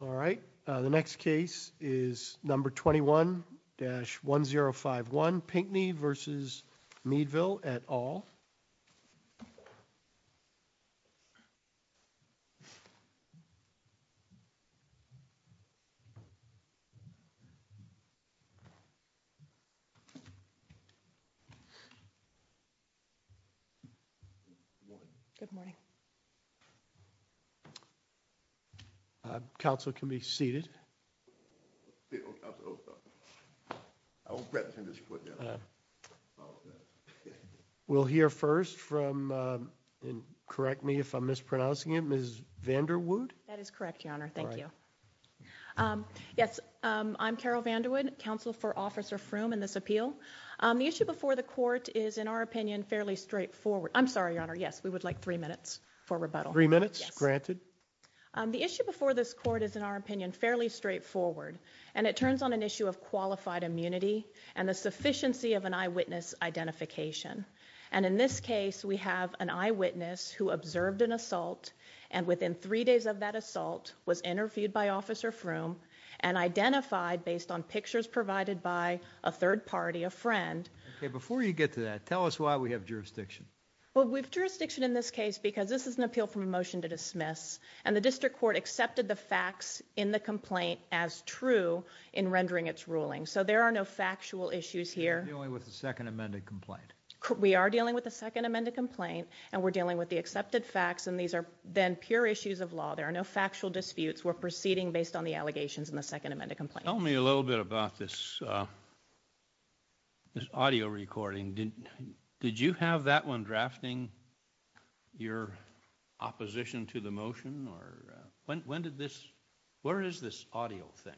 All right, the next case is number 21-1051, Pinckney v. Meadville et al. Good morning. Counsel can be seated. We'll hear first from, and correct me if I'm mispronouncing him, Ms. Vanderwood? That is correct, Your Honor. Thank you. Yes, I'm Carol Vanderwood, counsel for Officer Froome in this appeal. The issue before the court is, in our opinion, fairly straightforward. I'm sorry, Your Honor, yes, we would like three minutes for rebuttal. Three minutes, granted. The issue before this court is, in our opinion, fairly straightforward, and it turns on an issue of qualified immunity and the sufficiency of an eyewitness identification. And in this case, we have an eyewitness who observed an assault and, within three days of that assault, was interviewed by Officer Froome and identified, based on pictures provided by a third party, a friend. Okay, before you get to that, tell us why we have jurisdiction. Well, we have jurisdiction in this case because this is an appeal from a motion to dismiss, and the district court accepted the facts in the complaint as true in rendering its ruling. So there are no factual issues here. You're dealing with a second amended complaint. We are dealing with a second amended complaint, and we're dealing with the accepted facts, and these are then pure issues of law. There are no factual disputes. We're proceeding based on the allegations in the second amended complaint. Tell me a little bit about this audio recording. Did you have that when drafting your opposition to the motion, or when did this, where is this audio thing?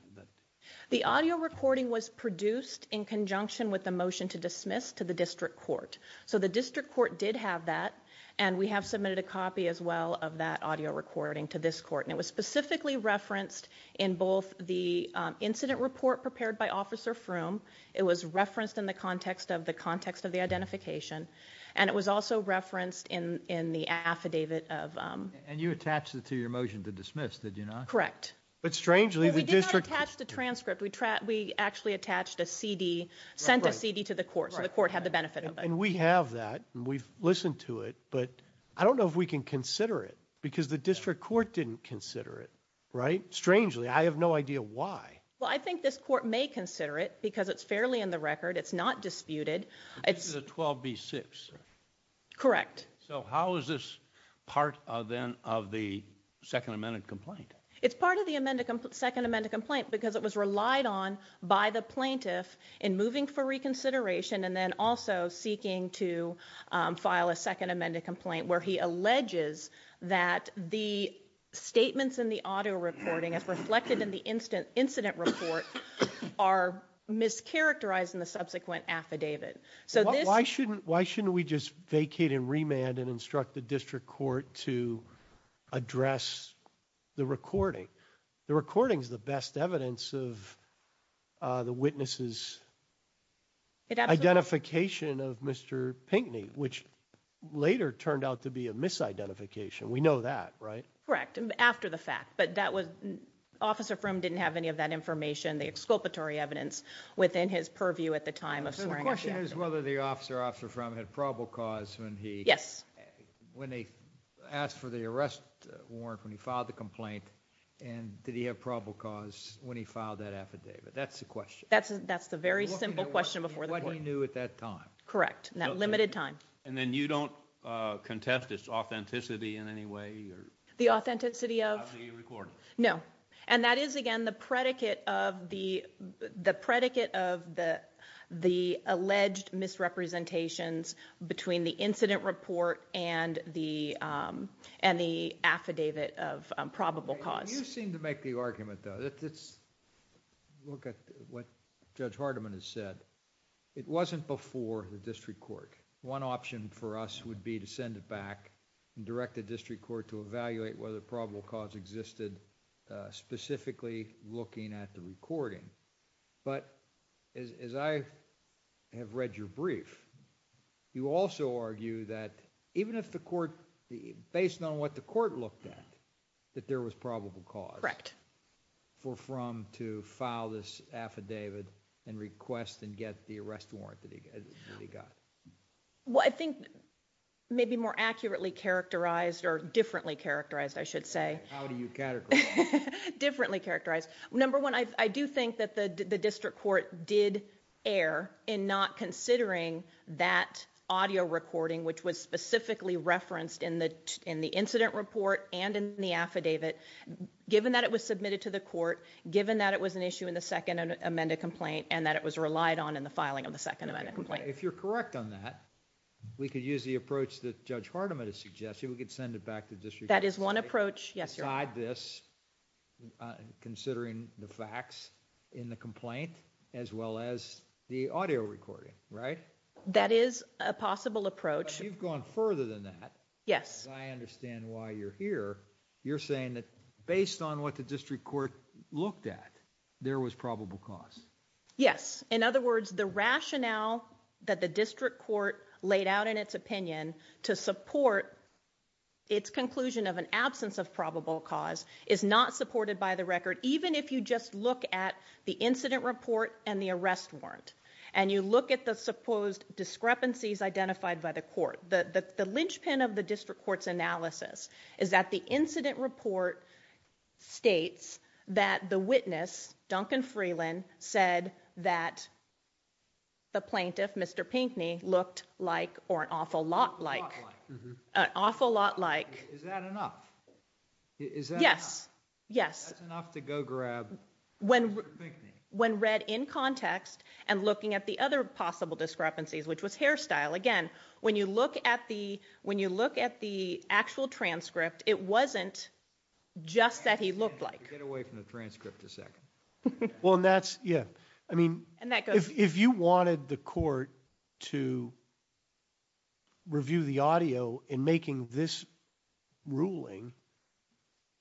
The audio recording was produced in conjunction with the motion to dismiss to the district court. So the district court did have that, and we have submitted a copy as well of that audio recording to this court. And it was specifically referenced in both the incident report prepared by Officer Froome, it was referenced in the context of the identification, and it was also referenced in the affidavit of... And you attached it to your motion to dismiss, did you not? Correct. But strangely, the district... We did not attach the transcript. We actually attached a CD, sent a CD to the court, so the court had the benefit of it. And we have that, and we've listened to it, but I don't know if we can consider it, because the district court didn't consider it, right? Strangely. I have no idea why. Well, I think this court may consider it, because it's fairly in the record, it's not disputed. It's... It's a 12B6. Correct. So how is this part, then, of the second amended complaint? It's part of the second amended complaint, because it was relied on by the plaintiff in moving for reconsideration, and then also seeking to file a second amended complaint, where he alleges that the statements in the auto reporting, as reflected in the incident report, are mischaracterized in the subsequent affidavit. So this... Why shouldn't we just vacate and remand and instruct the district court to address the recording? The recording's the best evidence of the witness's identification of Mr. Pinckney, which later turned out to be a misidentification. We know that, right? Correct. After the fact. But that was... Officer Frum didn't have any of that information, the exculpatory evidence, within his purview at the time of swearing at the defendant. So the question is whether the officer, Officer Frum, had probable cause when he... Yes. When they asked for the arrest warrant, when he filed the complaint, and did he have probable cause when he filed that affidavit? That's the question. That's the very simple question before the point. What he knew at that time. Correct. In that limited time. And then you don't contest its authenticity in any way? The authenticity of? Of the recording? No. And that is, again, the predicate of the alleged misrepresentations between the incident report and the affidavit of probable cause. You seem to make the argument, though, let's look at what Judge Hardiman has said. It wasn't before the district court. One option for us would be to send it back and direct the district court to evaluate whether probable cause existed, specifically looking at the recording. But as I have read your brief, you also argue that even if the court, based on what the court looked at, that there was probable cause for Frum to file this affidavit and request and get the arrest warrant that he got. Well, I think maybe more accurately characterized or differently characterized, I should say. How do you categorize? Differently characterized. Number one, I do think that the district court did err in not considering that audio recording, which was specifically referenced in the incident report and in the affidavit. Given that it was submitted to the court, given that it was an issue in the second amended complaint and that it was relied on in the filing of the second amendment complaint. If you're correct on that, we could use the approach that Judge Hardiman is suggesting. We could send it back to the district. That is one approach. Yes, you're right. Beside this, considering the facts in the complaint, as well as the audio recording, right? That is a possible approach. You've gone further than that. Yes. I understand why you're here. You're saying that based on what the district court looked at, there was probable cause. Yes. In other words, the rationale that the district court laid out in its opinion to support its conclusion of an absence of probable cause is not supported by the record. Even if you just look at the incident report and the arrest warrant, and you look at the supposed discrepancies identified by the court, that the linchpin of the district court's that the incident report states that the witness, Duncan Freeland, said that the plaintiff, Mr. Pinckney, looked like, or an awful lot like, an awful lot like. Is that enough? Is that enough? Yes. That's enough to go grab Mr. Pinckney? When read in context and looking at the other possible discrepancies, which was hairstyle, again, when you look at the actual transcript, it wasn't just that he looked like. Get away from the transcript a second. Well, and that's, yeah, I mean, if you wanted the court to review the audio in making this ruling,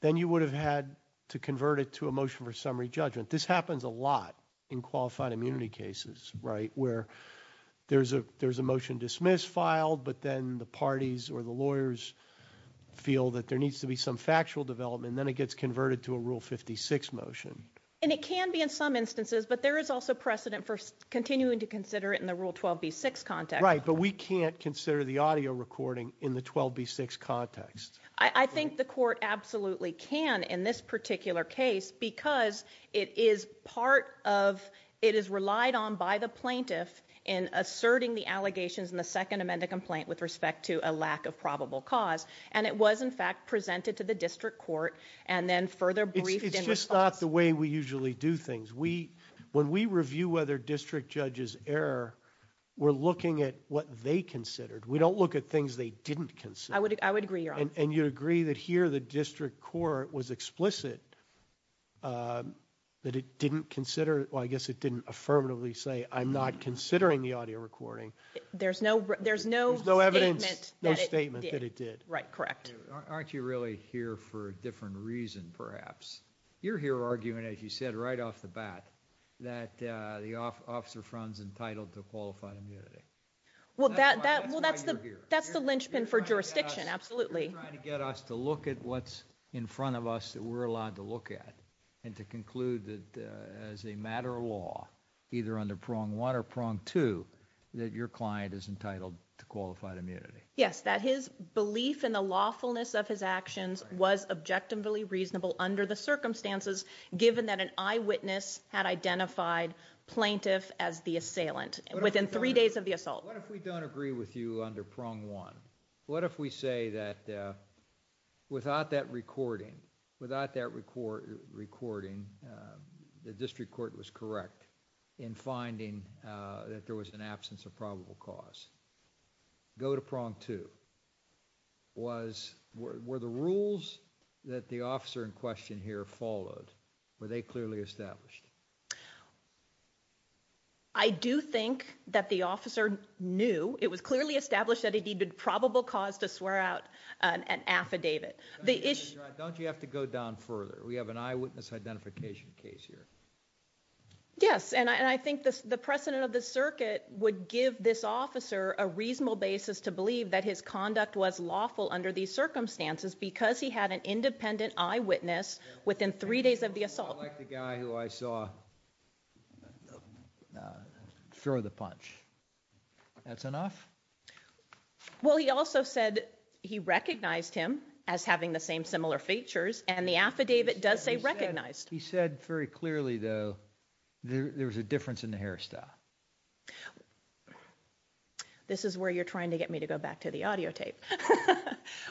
then you would have had to convert it to a motion for summary judgment. This happens a lot in qualified immunity cases, right, where there's a motion dismissed, filed, but then the parties or the lawyers feel that there needs to be some factual development, and then it gets converted to a Rule 56 motion. And it can be in some instances, but there is also precedent for continuing to consider it in the Rule 12b6 context. Right, but we can't consider the audio recording in the 12b6 context. I think the court absolutely can in this particular case because it is part of, it is relied on by the plaintiff in asserting the allegations in the Second Amendment complaint with respect to a lack of probable cause. And it was, in fact, presented to the district court and then further briefed in response. It's just not the way we usually do things. When we review whether district judges err, we're looking at what they considered. We don't look at things they didn't consider. I would agree, Your Honor. And you'd agree that here the district court was explicit that it didn't consider, well, I guess it didn't affirmatively say, I'm not considering the audio recording. There's no evidence. There's no statement that it did. No statement that it did. Right, correct. Aren't you really here for a different reason, perhaps? You're here arguing, as you said right off the bat, that the officer front is entitled to qualified immunity. Well, that's why you're here. You're here for jurisdiction, absolutely. You're trying to get us to look at what's in front of us that we're allowed to look at and to conclude that as a matter of law, either under Prong 1 or Prong 2, that your client is entitled to qualified immunity. Yes, that his belief in the lawfulness of his actions was objectively reasonable under the circumstances, given that an eyewitness had identified plaintiff as the assailant within three days of the assault. What if we don't agree with you under Prong 1? What if we say that without that recording, without that recording, the district court was correct in finding that there was an absence of probable cause? Go to Prong 2. Were the rules that the officer in question here followed, were they clearly established? I do think that the officer knew. It was clearly established that he needed probable cause to swear out an affidavit. Don't you have to go down further? We have an eyewitness identification case here. Yes, and I think the precedent of the circuit would give this officer a reasonable basis to believe that his conduct was lawful under these circumstances because he had an independent eyewitness within three days of the assault. I don't like the guy who I saw throw the punch. That's enough? Well, he also said he recognized him as having the same similar features, and the affidavit does say recognized. He said very clearly, though, there was a difference in the hairstyle. This is where you're trying to get me to go back to the audio tape.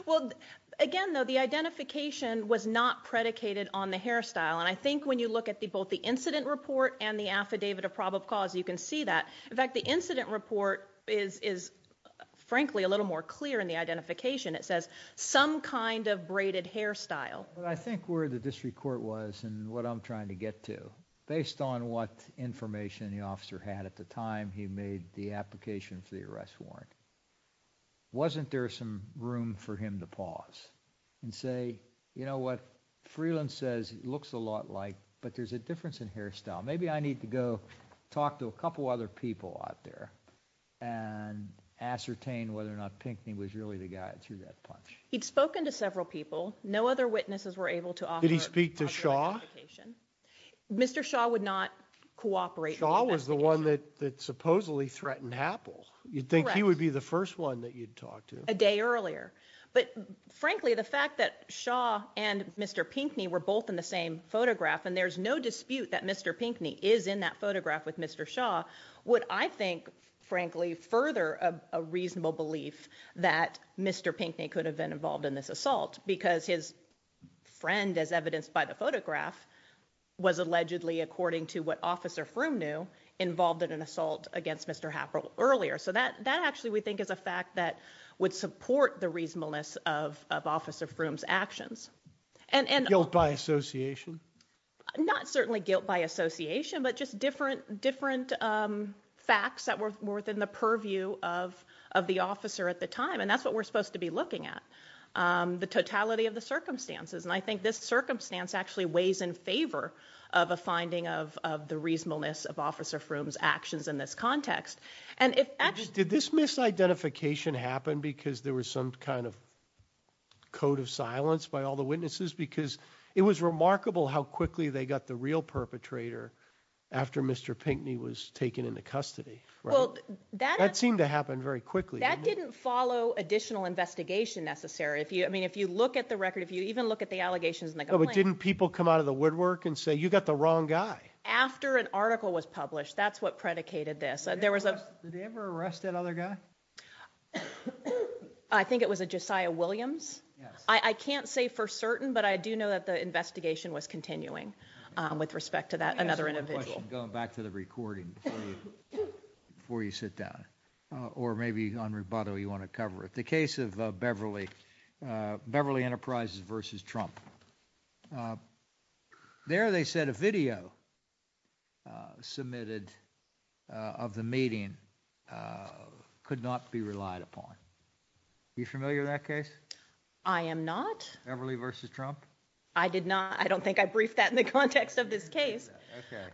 Well, again, though, the identification was not predicated on the hairstyle, and I think when you look at both the incident report and the affidavit of probable cause, you can see that. In fact, the incident report is, frankly, a little more clear in the identification. It says some kind of braided hairstyle. I think where the district court was and what I'm trying to get to, based on what information the officer had at the time he made the application for the arrest warrant, wasn't there some room for him to pause and say, you know what, Freeland says it looks a lot like, but there's a difference in hairstyle. Maybe I need to go talk to a couple other people out there and ascertain whether or not Pinckney was really the guy that threw that punch. He'd spoken to several people. No other witnesses were able to offer identification. Did he speak to Shaw? Mr. Shaw would not cooperate. Shaw was the one that supposedly threatened Happel. You'd think he would be the first one that you'd talk to. A day earlier. But frankly, the fact that Shaw and Mr. Pinckney were both in the same photograph, and there's no dispute that Mr. Pinckney is in that photograph with Mr. Shaw, would, I think, frankly, further a reasonable belief that Mr. Pinckney could have been involved in this assault because his friend, as evidenced by the photograph, was allegedly, according to what Officer Froome knew, involved in an assault against Mr. Happel earlier. So that actually, we think, is a fact that would support the reasonableness of Officer Froome's actions. Guilt by association? Not certainly guilt by association, but just different facts that were within the purview of the officer at the time, and that's what we're supposed to be looking at, the totality of the circumstances. And I think this circumstance actually weighs in favor of a finding of the reasonableness of Officer Froome's actions in this context. Did this misidentification happen because there was some kind of code of silence by all the witnesses? Because it was remarkable how quickly they got the real perpetrator after Mr. Pinckney was taken into custody, right? That seemed to happen very quickly. That didn't follow additional investigation, necessarily. If you look at the record, if you even look at the allegations in the complaint... But didn't people come out of the woodwork and say, you got the wrong guy? After an article was published, that's what predicated this. Did they ever arrest that other guy? I think it was a Josiah Williams. I can't say for certain, but I do know that the investigation was continuing with respect to that another individual. I have one question, going back to the recording before you sit down, or maybe on rebuttal you want to cover it. The case of Beverly Enterprises versus Trump. There they said a video submitted of the meeting could not be relied upon. Are you familiar with that case? I am not. Beverly versus Trump? I did not. I don't think I briefed that in the context of this case.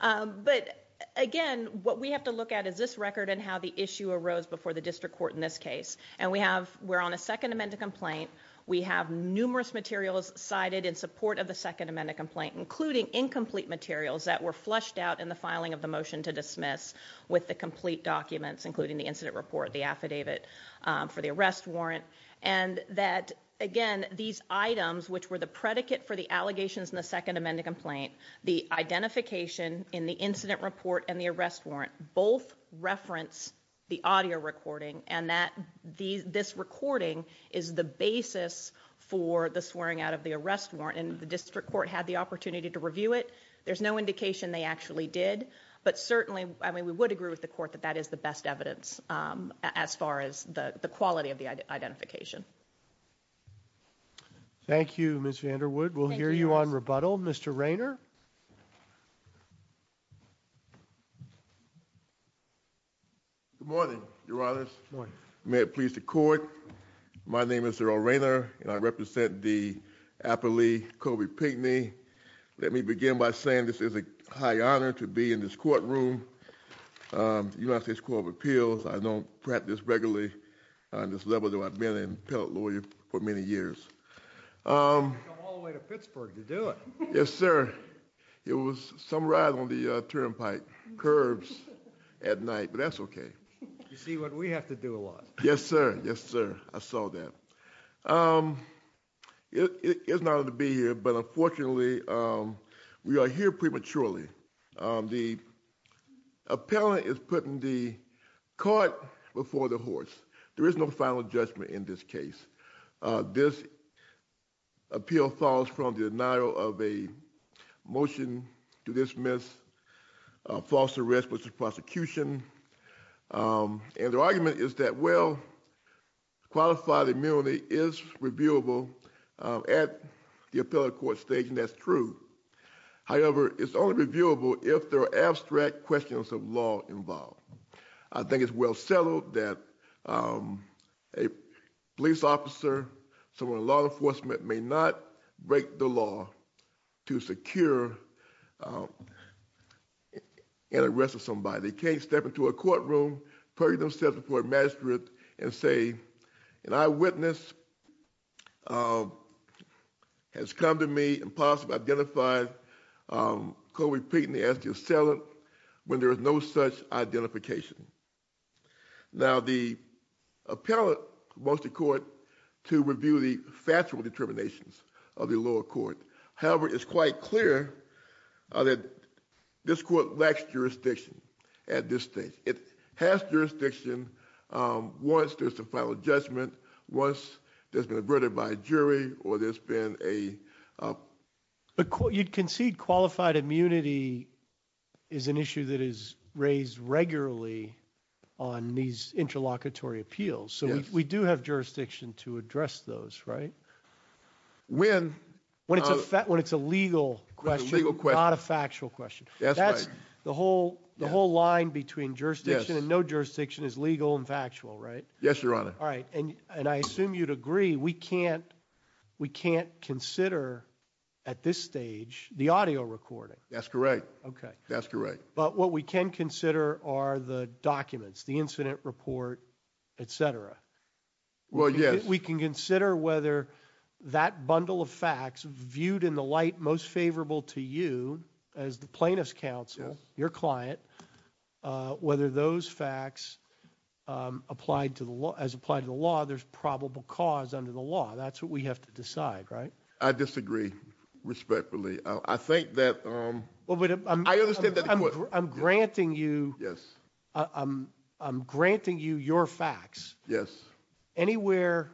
But again, what we have to look at is this record and how the issue arose before the district court in this case. And we're on a second amendment complaint. We have numerous materials cited in support of the second amendment complaint, including incomplete materials that were flushed out in the filing of the motion to dismiss with the complete documents, including the incident report, the affidavit for the arrest warrant. And that, again, these items, which were the predicate for the allegations in the second amendment complaint, the identification in the incident report and the arrest warrant both reference the audio recording and that this recording is the basis for the swearing out of the arrest warrant. And the district court had the opportunity to review it. There's no indication they actually did. But certainly, I mean, we would agree with the court that that is the best evidence as far as the quality of the identification. Thank you, Ms. Vanderwood. We'll hear you on rebuttal. Mr. Rayner? Good morning, Your Honors. Good morning. May it please the court, my name is Earl Rayner and I represent the appellee, Colby Pinckney. Let me begin by saying this is a high honor to be in this courtroom, the United States Court of Appeals. I don't practice regularly on this level, though I've been an appellate lawyer for many years. You've come all the way to Pittsburgh to do it. Yes, sir. It was some ride on the turnpike curves at night, but that's okay. You see what we have to do a lot. Yes, sir. Yes, sir. I saw that. It's an honor to be here, but unfortunately, we are here prematurely. The appellate is putting the court before the horse. There is no final judgment in this case. This appeal falls from the denial of a motion to dismiss false arrest versus prosecution. And the argument is that, well, qualified immunity is reviewable at the appellate court stage, and that's true. However, it's only reviewable if there are abstract questions of law involved. I think it's well settled that a police officer, someone in law enforcement, may not break the law to secure an arrest of somebody. They can't step into a courtroom, purge themselves before a magistrate and say, an eyewitness has come to me and possibly identified Colby Peten, the SGA assailant, when there is no such identification. Now, the appellate wants the court to review the factual determinations of the lower court. However, it's quite clear that this court lacks jurisdiction at this stage. It has jurisdiction once there's a final judgment, once there's been a verdict by a jury, or there's been a- You concede qualified immunity is an issue that is raised regularly on these interlocutory appeals. So we do have jurisdiction to address those, right? When it's a legal question, not a factual question. That's right. The whole line between jurisdiction and no jurisdiction is legal and factual, right? Yes, Your Honor. And I assume you'd agree we can't consider, at this stage, the audio recording. That's correct. But what we can consider are the documents, the incident report, etc. Well, yes. We can consider whether that bundle of facts, viewed in the light most favorable to you as the plaintiff's counsel, your client, whether those facts, as applied to the law, there's probable cause under the law. That's what we have to decide, right? I disagree respectfully. I think that- I understand that the court- I'm granting you- Yes. I'm granting you your facts. Yes. Anywhere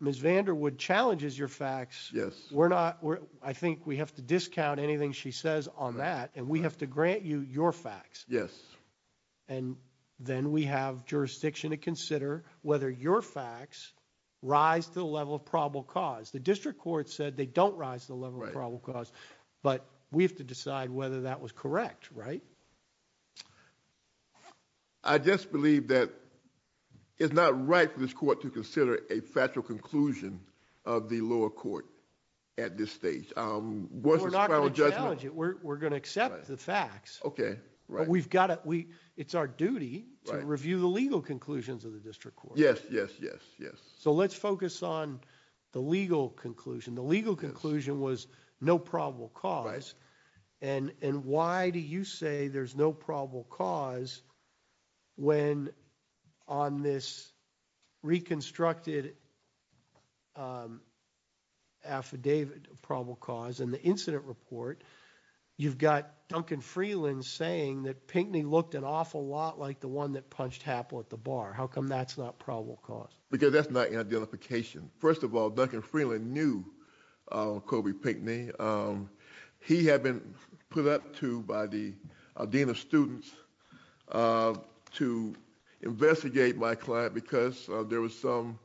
Ms. Vanderwood challenges your facts- Yes. I think we have to discount anything she says on that, and we have to grant you your facts. Yes. And then we have jurisdiction to consider whether your facts rise to the level of probable cause. The district court said they don't rise to the level of probable cause, but we have to decide whether that was correct, right? I just believe that it's not right for this court to consider a factual conclusion of the lower court at this stage. We're not going to challenge it. We're going to accept the facts. Okay. We've got to- It's our duty to review the legal conclusions of the district court. Yes, yes, yes, yes. So let's focus on the legal conclusion. The legal conclusion was no probable cause. Right. And why do you say there's no probable cause when on this reconstructed affidavit of probable cause in the incident report, you've got Duncan Freeland saying that Pinckney looked an awful lot like the one that punched Happel at the bar. How come that's not probable cause? Because that's not an identification. First of all, Duncan Freeland knew Kobe Pinckney. He had been put up to by the dean of students to investigate my client because there was some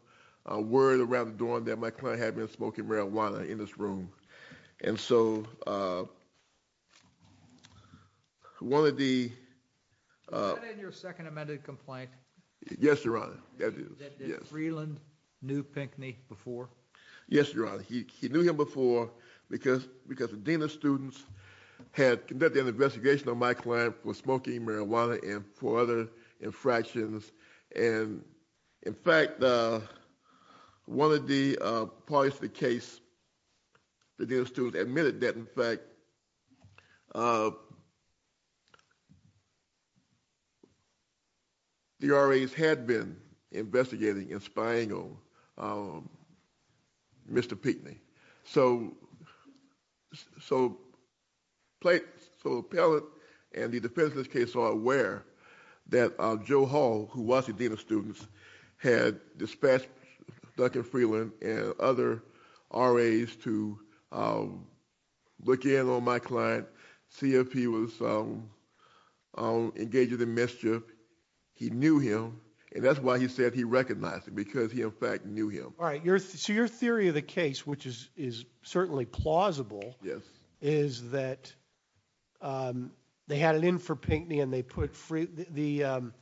word around the door that my client had been smoking marijuana in this room. And so one of the- Was that in your second amended complaint? Yes, Your Honor. That Freeland knew Pinckney before? Yes, Your Honor. He knew him before because the dean of students had conducted an investigation on my client for smoking marijuana and for other infractions. And, in fact, one of the parties to the case, the dean of students, So Appellate and the defense in this case are aware that Joe Hall, who was the dean of students, had dispatched Duncan Freeland and other RAs to look in on my client, see if he was engaged in mischief. He knew him, and that's why he said he recognized him, because he, in fact, knew him. All right, so your theory of the case, which is certainly plausible, is that they had it in for Pinckney and they put Freeland-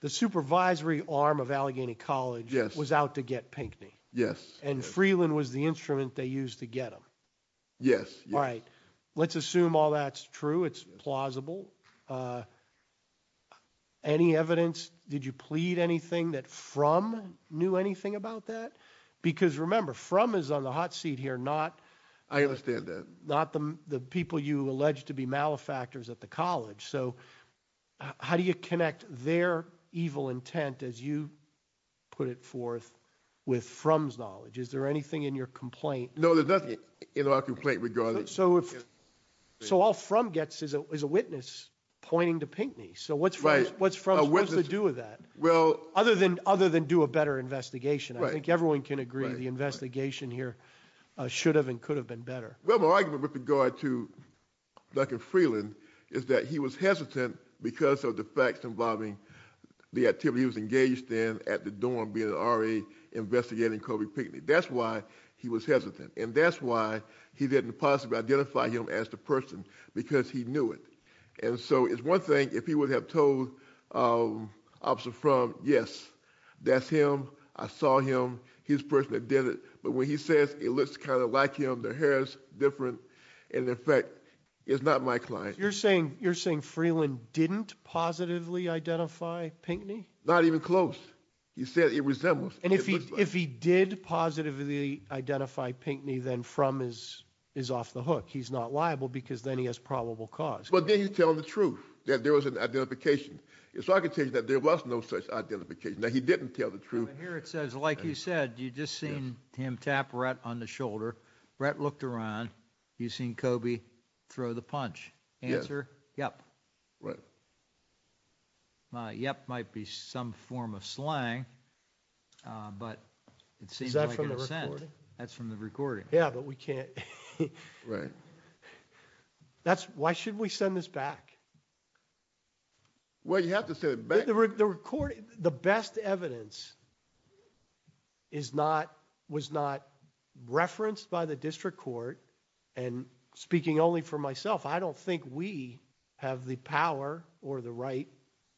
The supervisory arm of Allegheny College was out to get Pinckney. Yes. And Freeland was the instrument they used to get him. Yes, yes. All right, let's assume all that's true, it's plausible. Any evidence? Did you plead anything that Frum knew anything about that? Because, remember, Frum is on the hot seat here, not- I understand that. Not the people you allege to be malefactors at the college. So how do you connect their evil intent, as you put it forth, with Frum's knowledge? Is there anything in your complaint? No, there's nothing in our complaint regarding- So all Frum gets is a witness pointing to Pinckney. So what's Frum's- Right, a witness- What's to do with that, other than do a better investigation? I think everyone can agree the investigation here should have and could have been better. Well, my argument with regard to Duncan Freeland is that he was hesitant because of the facts involving the activity he was engaged in at the dorm, That's why he was hesitant. And that's why he didn't possibly identify him as the person, because he knew it. And so it's one thing if he would have told Officer Frum, Yes, that's him, I saw him, he's the person that did it. But when he says it looks kind of like him, their hair is different, and in fact, it's not my client. You're saying Freeland didn't positively identify Pinckney? Not even close. He said it resembles. And if he did positively identify Pinckney, then Frum is off the hook. He's not liable because then he has probable cause. But then he's telling the truth, that there was an identification. So I can tell you that there was no such identification, that he didn't tell the truth. Here it says, like you said, you've just seen him tap Rhett on the shoulder. Rhett looked around. You've seen Kobe throw the punch. Answer, yep. Right. Yep might be some form of slang. But it seems like an assent. Is that from the recording? That's from the recording. Yeah, but we can't. Right. Why should we send this back? Well, you have to send it back. The best evidence was not referenced by the district court. And speaking only for myself, I don't think we have the power or the right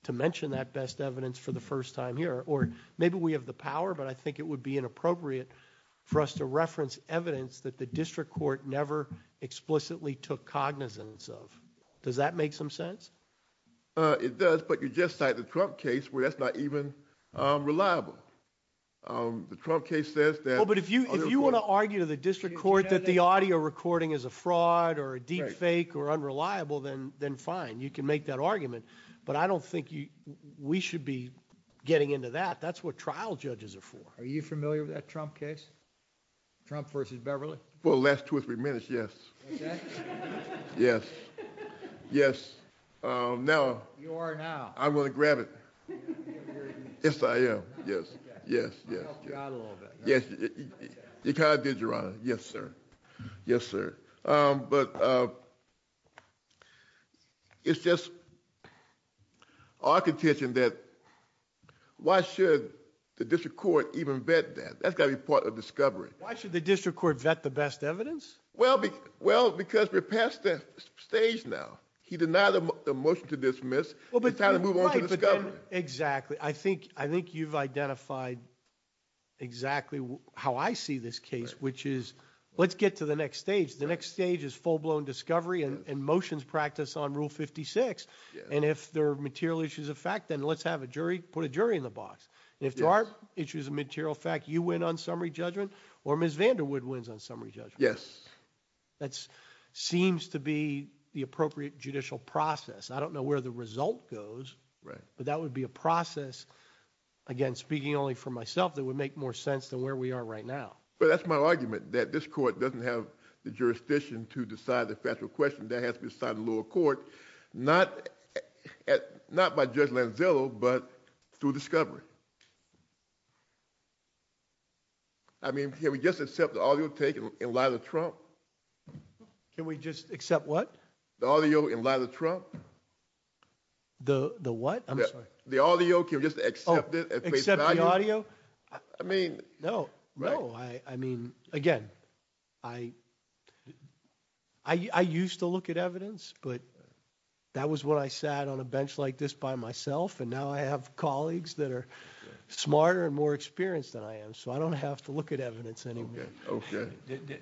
to mention that best evidence for the first time here. Or maybe we have the power, but I think it would be inappropriate for us to reference evidence that the district court never explicitly took cognizance of. Does that make some sense? It does, but you just cited the Trump case where that's not even reliable. The Trump case says that. Well, but if you want to argue to the district court that the audio recording is a fraud or a deep fake or unreliable, then fine. You can make that argument. But I don't think we should be getting into that. That's what trial judges are for. Are you familiar with that Trump case? Trump versus Beverly? For the last two or three minutes, yes. Okay. Yes. Yes. Now. You are now. I'm going to grab it. Yes, I am. Yes. Yes. You kind of did, Your Honor. Yes, sir. Yes, sir. But it's just our contention that why should the district court even vet that? That's got to be part of discovery. Why should the district court vet the best evidence? Well, because we're past that stage now. He denied the motion to dismiss. It's time to move on to discovery. Exactly. I think you've identified exactly how I see this case, which is let's get to the next stage. The next stage is full-blown discovery and motions practice on Rule 56. And if there are material issues of fact, then let's have a jury, put a jury in the box. And if there aren't issues of material fact, you win on summary judgment or Ms. Vanderwood wins on summary judgment. Yes. That seems to be the appropriate judicial process. I don't know where the result goes. Right. But that would be a process, again, speaking only for myself, that would make more sense than where we are right now. But that's my argument, that this court doesn't have the jurisdiction to decide the factual question. That has to be decided in lower court, not by Judge Lanzillo, but through discovery. I mean, can we just accept the audio taken in light of Trump? Can we just accept what? The audio in light of Trump. The what? I'm sorry. Can we just accept it at face value? Accept the audio? I mean. No. No. I mean, again, I used to look at evidence, but that was when I sat on a bench like this by myself. And now I have colleagues that are smarter and more experienced than I am. So I don't have to look at evidence anymore. Okay. Okay.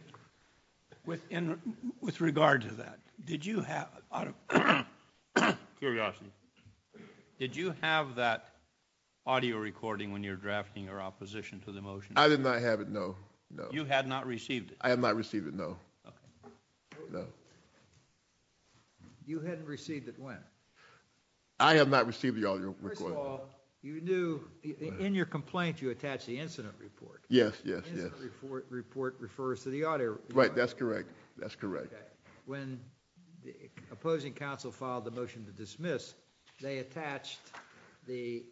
With regard to that, did you have – Curiosity. Did you have that audio recording when you were drafting your opposition to the motion? I did not have it, no. No. You had not received it? I have not received it, no. Okay. No. You hadn't received it when? I have not received the audio recording. First of all, you knew in your complaint you attached the incident report. Yes, yes, yes. The incident report refers to the audio. Right, that's correct. That's correct. Okay. When the opposing counsel filed the motion to dismiss, they attached the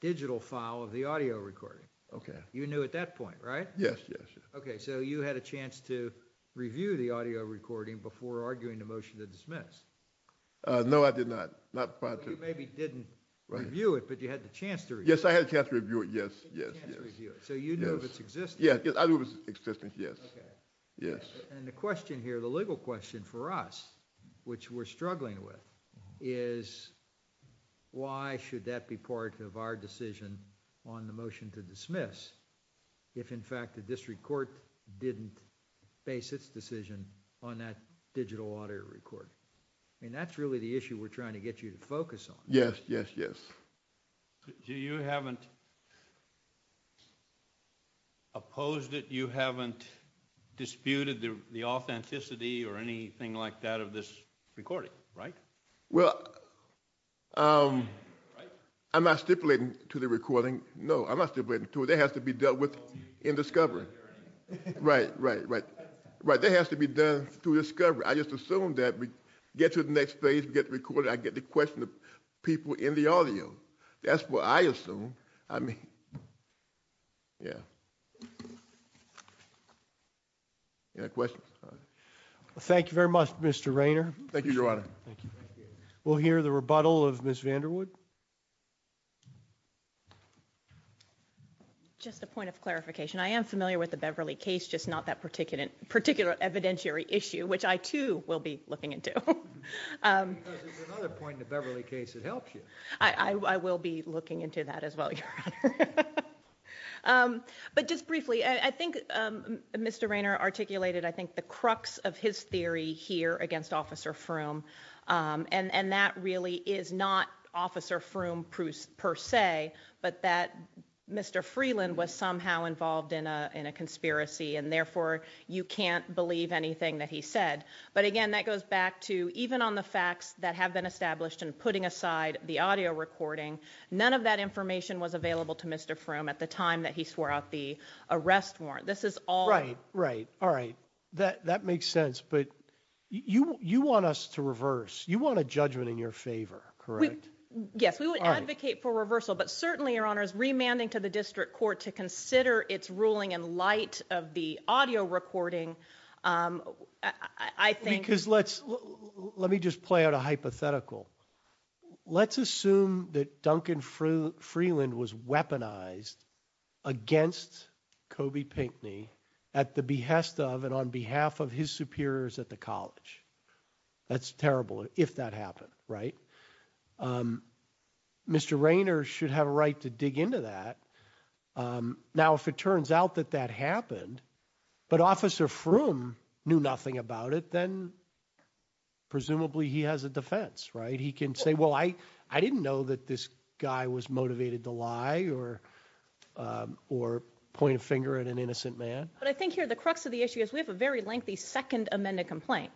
digital file of the audio recording. Okay. You knew at that point, right? Yes, yes, yes. Okay. So you had a chance to review the audio recording before arguing the motion to dismiss. No, I did not. Not prior to. You maybe didn't review it, but you had the chance to review it. Yes, I had a chance to review it. Yes, yes, yes. You had a chance to review it. So you knew of its existence. Yes. I knew of its existence, yes. Okay. And the question here, the legal question for us, which we're struggling with, is why should that be part of our decision on the motion to dismiss, if in fact the district court didn't base its decision on that digital audio record? I mean, that's really the issue we're trying to get you to focus on. Yes, yes, yes. So you haven't opposed it, you haven't disputed the authenticity or anything like that of this recording, right? Well, I'm not stipulating to the recording. No, I'm not stipulating to it. That has to be dealt with in discovery. Right, right, right. Right, that has to be done through discovery. I just assume that we get to the next phase, we get the recording, I get to question the people in the audio. That's what I assume. I mean, yeah. Any questions? Thank you very much, Mr. Raynor. Thank you, Your Honor. Thank you. We'll hear the rebuttal of Ms. Vanderwood. Just a point of clarification. I am familiar with the Beverly case, just not that particular evidentiary issue, which I, too, will be looking into. Because there's another point in the Beverly case that helps you. I will be looking into that as well, Your Honor. But just briefly, I think Mr. Raynor articulated, I think, the crux of his theory here against Officer Frum, and that really is not Officer Frum per se, but that Mr. Freeland was somehow involved in a conspiracy, and therefore you can't believe anything that he said. But, again, that goes back to even on the facts that have been established and putting aside the audio recording, none of that information was available to Mr. Frum at the time that he swore out the arrest warrant. This is all. Right, right, all right. That makes sense. But you want us to reverse. You want a judgment in your favor, correct? Yes, we would advocate for reversal, but certainly, Your Honor, remanding to the district court to consider its ruling in light of the audio recording, I think. Because let me just play out a hypothetical. Let's assume that Duncan Freeland was weaponized against Kobe Pinckney at the behest of and on behalf of his superiors at the college. That's terrible if that happened, right? Mr. Raynor should have a right to dig into that. Now, if it turns out that that happened, but Officer Frum knew nothing about it, then presumably he has a defense, right? He can say, well, I didn't know that this guy was motivated to lie or point a finger at an innocent man. But I think here the crux of the issue is we have a very lengthy second amended complaint.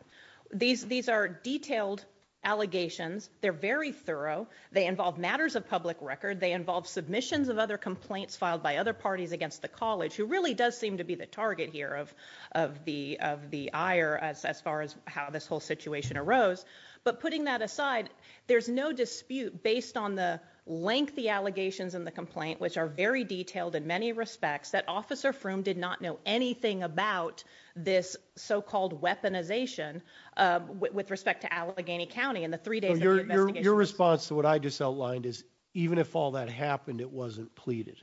These are detailed allegations. They're very thorough. They involve matters of public record. They involve submissions of other complaints filed by other parties against the college, who really does seem to be the target here of the ire as far as how this whole situation arose. But putting that aside, there's no dispute based on the lengthy allegations in the complaint, which are very detailed in many respects, that Officer Frum did not know anything about this so-called weaponization with respect to Allegheny County in the three days of the investigation. Your response to what I just outlined is even if all that happened, it wasn't pleaded?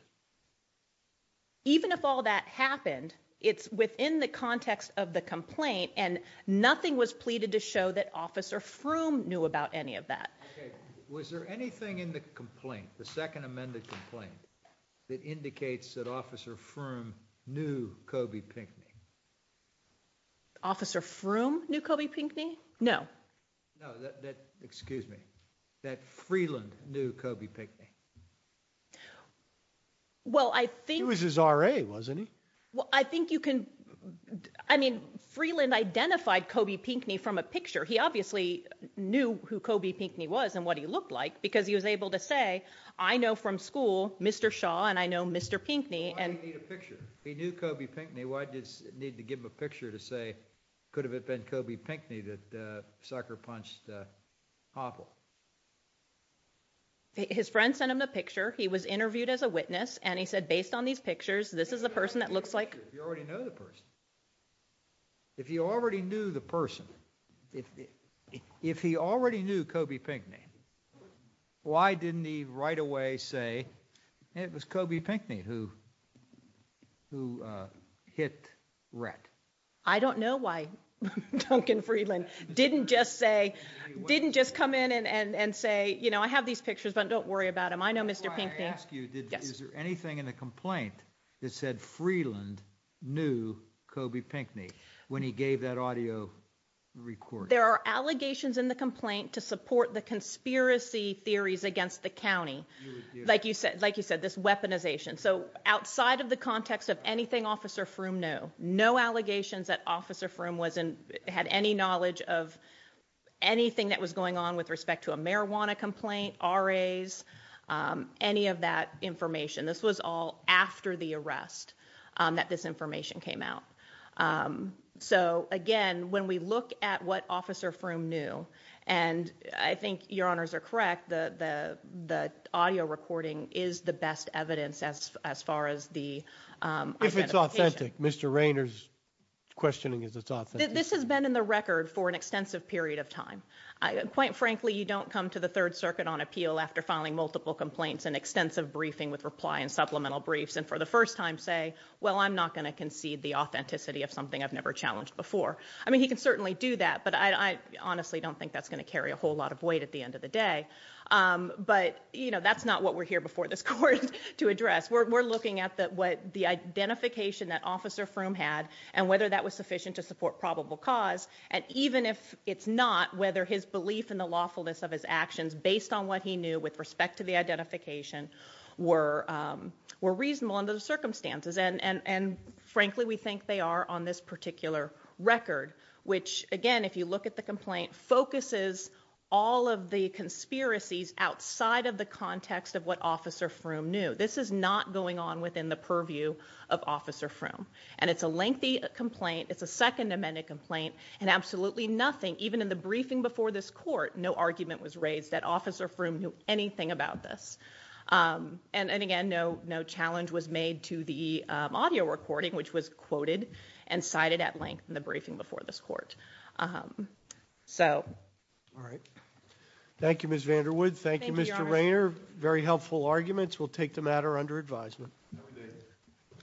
Even if all that happened, it's within the context of the complaint, and nothing was pleaded to show that Officer Frum knew about any of that. Okay. Was there anything in the complaint, the second amended complaint, that indicates that Officer Frum knew Kobe Pinckney? Officer Frum knew Kobe Pinckney? No. No. That, excuse me, that Freeland knew Kobe Pinckney? Well, I think— He was his RA, wasn't he? Well, I think you can—I mean, Freeland identified Kobe Pinckney from a picture. He obviously knew who Kobe Pinckney was and what he looked like because he was able to say, I know from school Mr. Shaw, and I know Mr. Pinckney, and— Why did he need a picture? If he knew Kobe Pinckney, why did he need to give him a picture to say, could have it been Kobe Pinckney that sucker-punched Hoppel? His friend sent him the picture. He was interviewed as a witness, and he said, based on these pictures, this is the person that looks like— You already know the person. If he already knew the person, if he already knew Kobe Pinckney, why didn't he right away say, it was Kobe Pinckney who hit Rhett? I don't know why Duncan Freeland didn't just say, didn't just come in and say, you know, I have these pictures, but don't worry about them. I know Mr. Pinckney. Before I ask you, is there anything in the complaint that said Freeland knew Kobe Pinckney when he gave that audio recording? There are allegations in the complaint to support the conspiracy theories against the county. Like you said, this weaponization. So outside of the context of anything Officer Froome knew, no allegations that Officer Froome had any knowledge of anything that was going on with respect to a marijuana complaint, RAs, any of that information. This was all after the arrest that this information came out. So, again, when we look at what Officer Froome knew, and I think your honors are correct, the audio recording is the best evidence as far as the identification. If it's authentic. Mr. Rayner's questioning is it's authentic. This has been in the record for an extensive period of time. Quite frankly, you don't come to the Third Circuit on appeal after filing multiple complaints and extensive briefing with reply and supplemental briefs and for the first time say, well, I'm not going to concede the authenticity of something I've never challenged before. I mean, he can certainly do that, but I honestly don't think that's going to carry a whole lot of weight at the end of the day. But, you know, that's not what we're here before this court to address. We're looking at what the identification that Officer Froome had and whether that was sufficient to support probable cause. And even if it's not, whether his belief in the lawfulness of his actions, based on what he knew with respect to the identification, were reasonable under the circumstances. And, frankly, we think they are on this particular record, which, again, if you look at the complaint, focuses all of the conspiracies outside of the context of what Officer Froome knew. This is not going on within the purview of Officer Froome. And it's a lengthy complaint. It's a Second Amendment complaint. And absolutely nothing, even in the briefing before this court, no argument was raised that Officer Froome knew anything about this. And, again, no challenge was made to the audio recording, which was quoted and cited at length in the briefing before this court. So... All right. Thank you, Ms. Vanderwood. Thank you, Mr. Raynor. Very helpful arguments. We'll take the matter under advisement.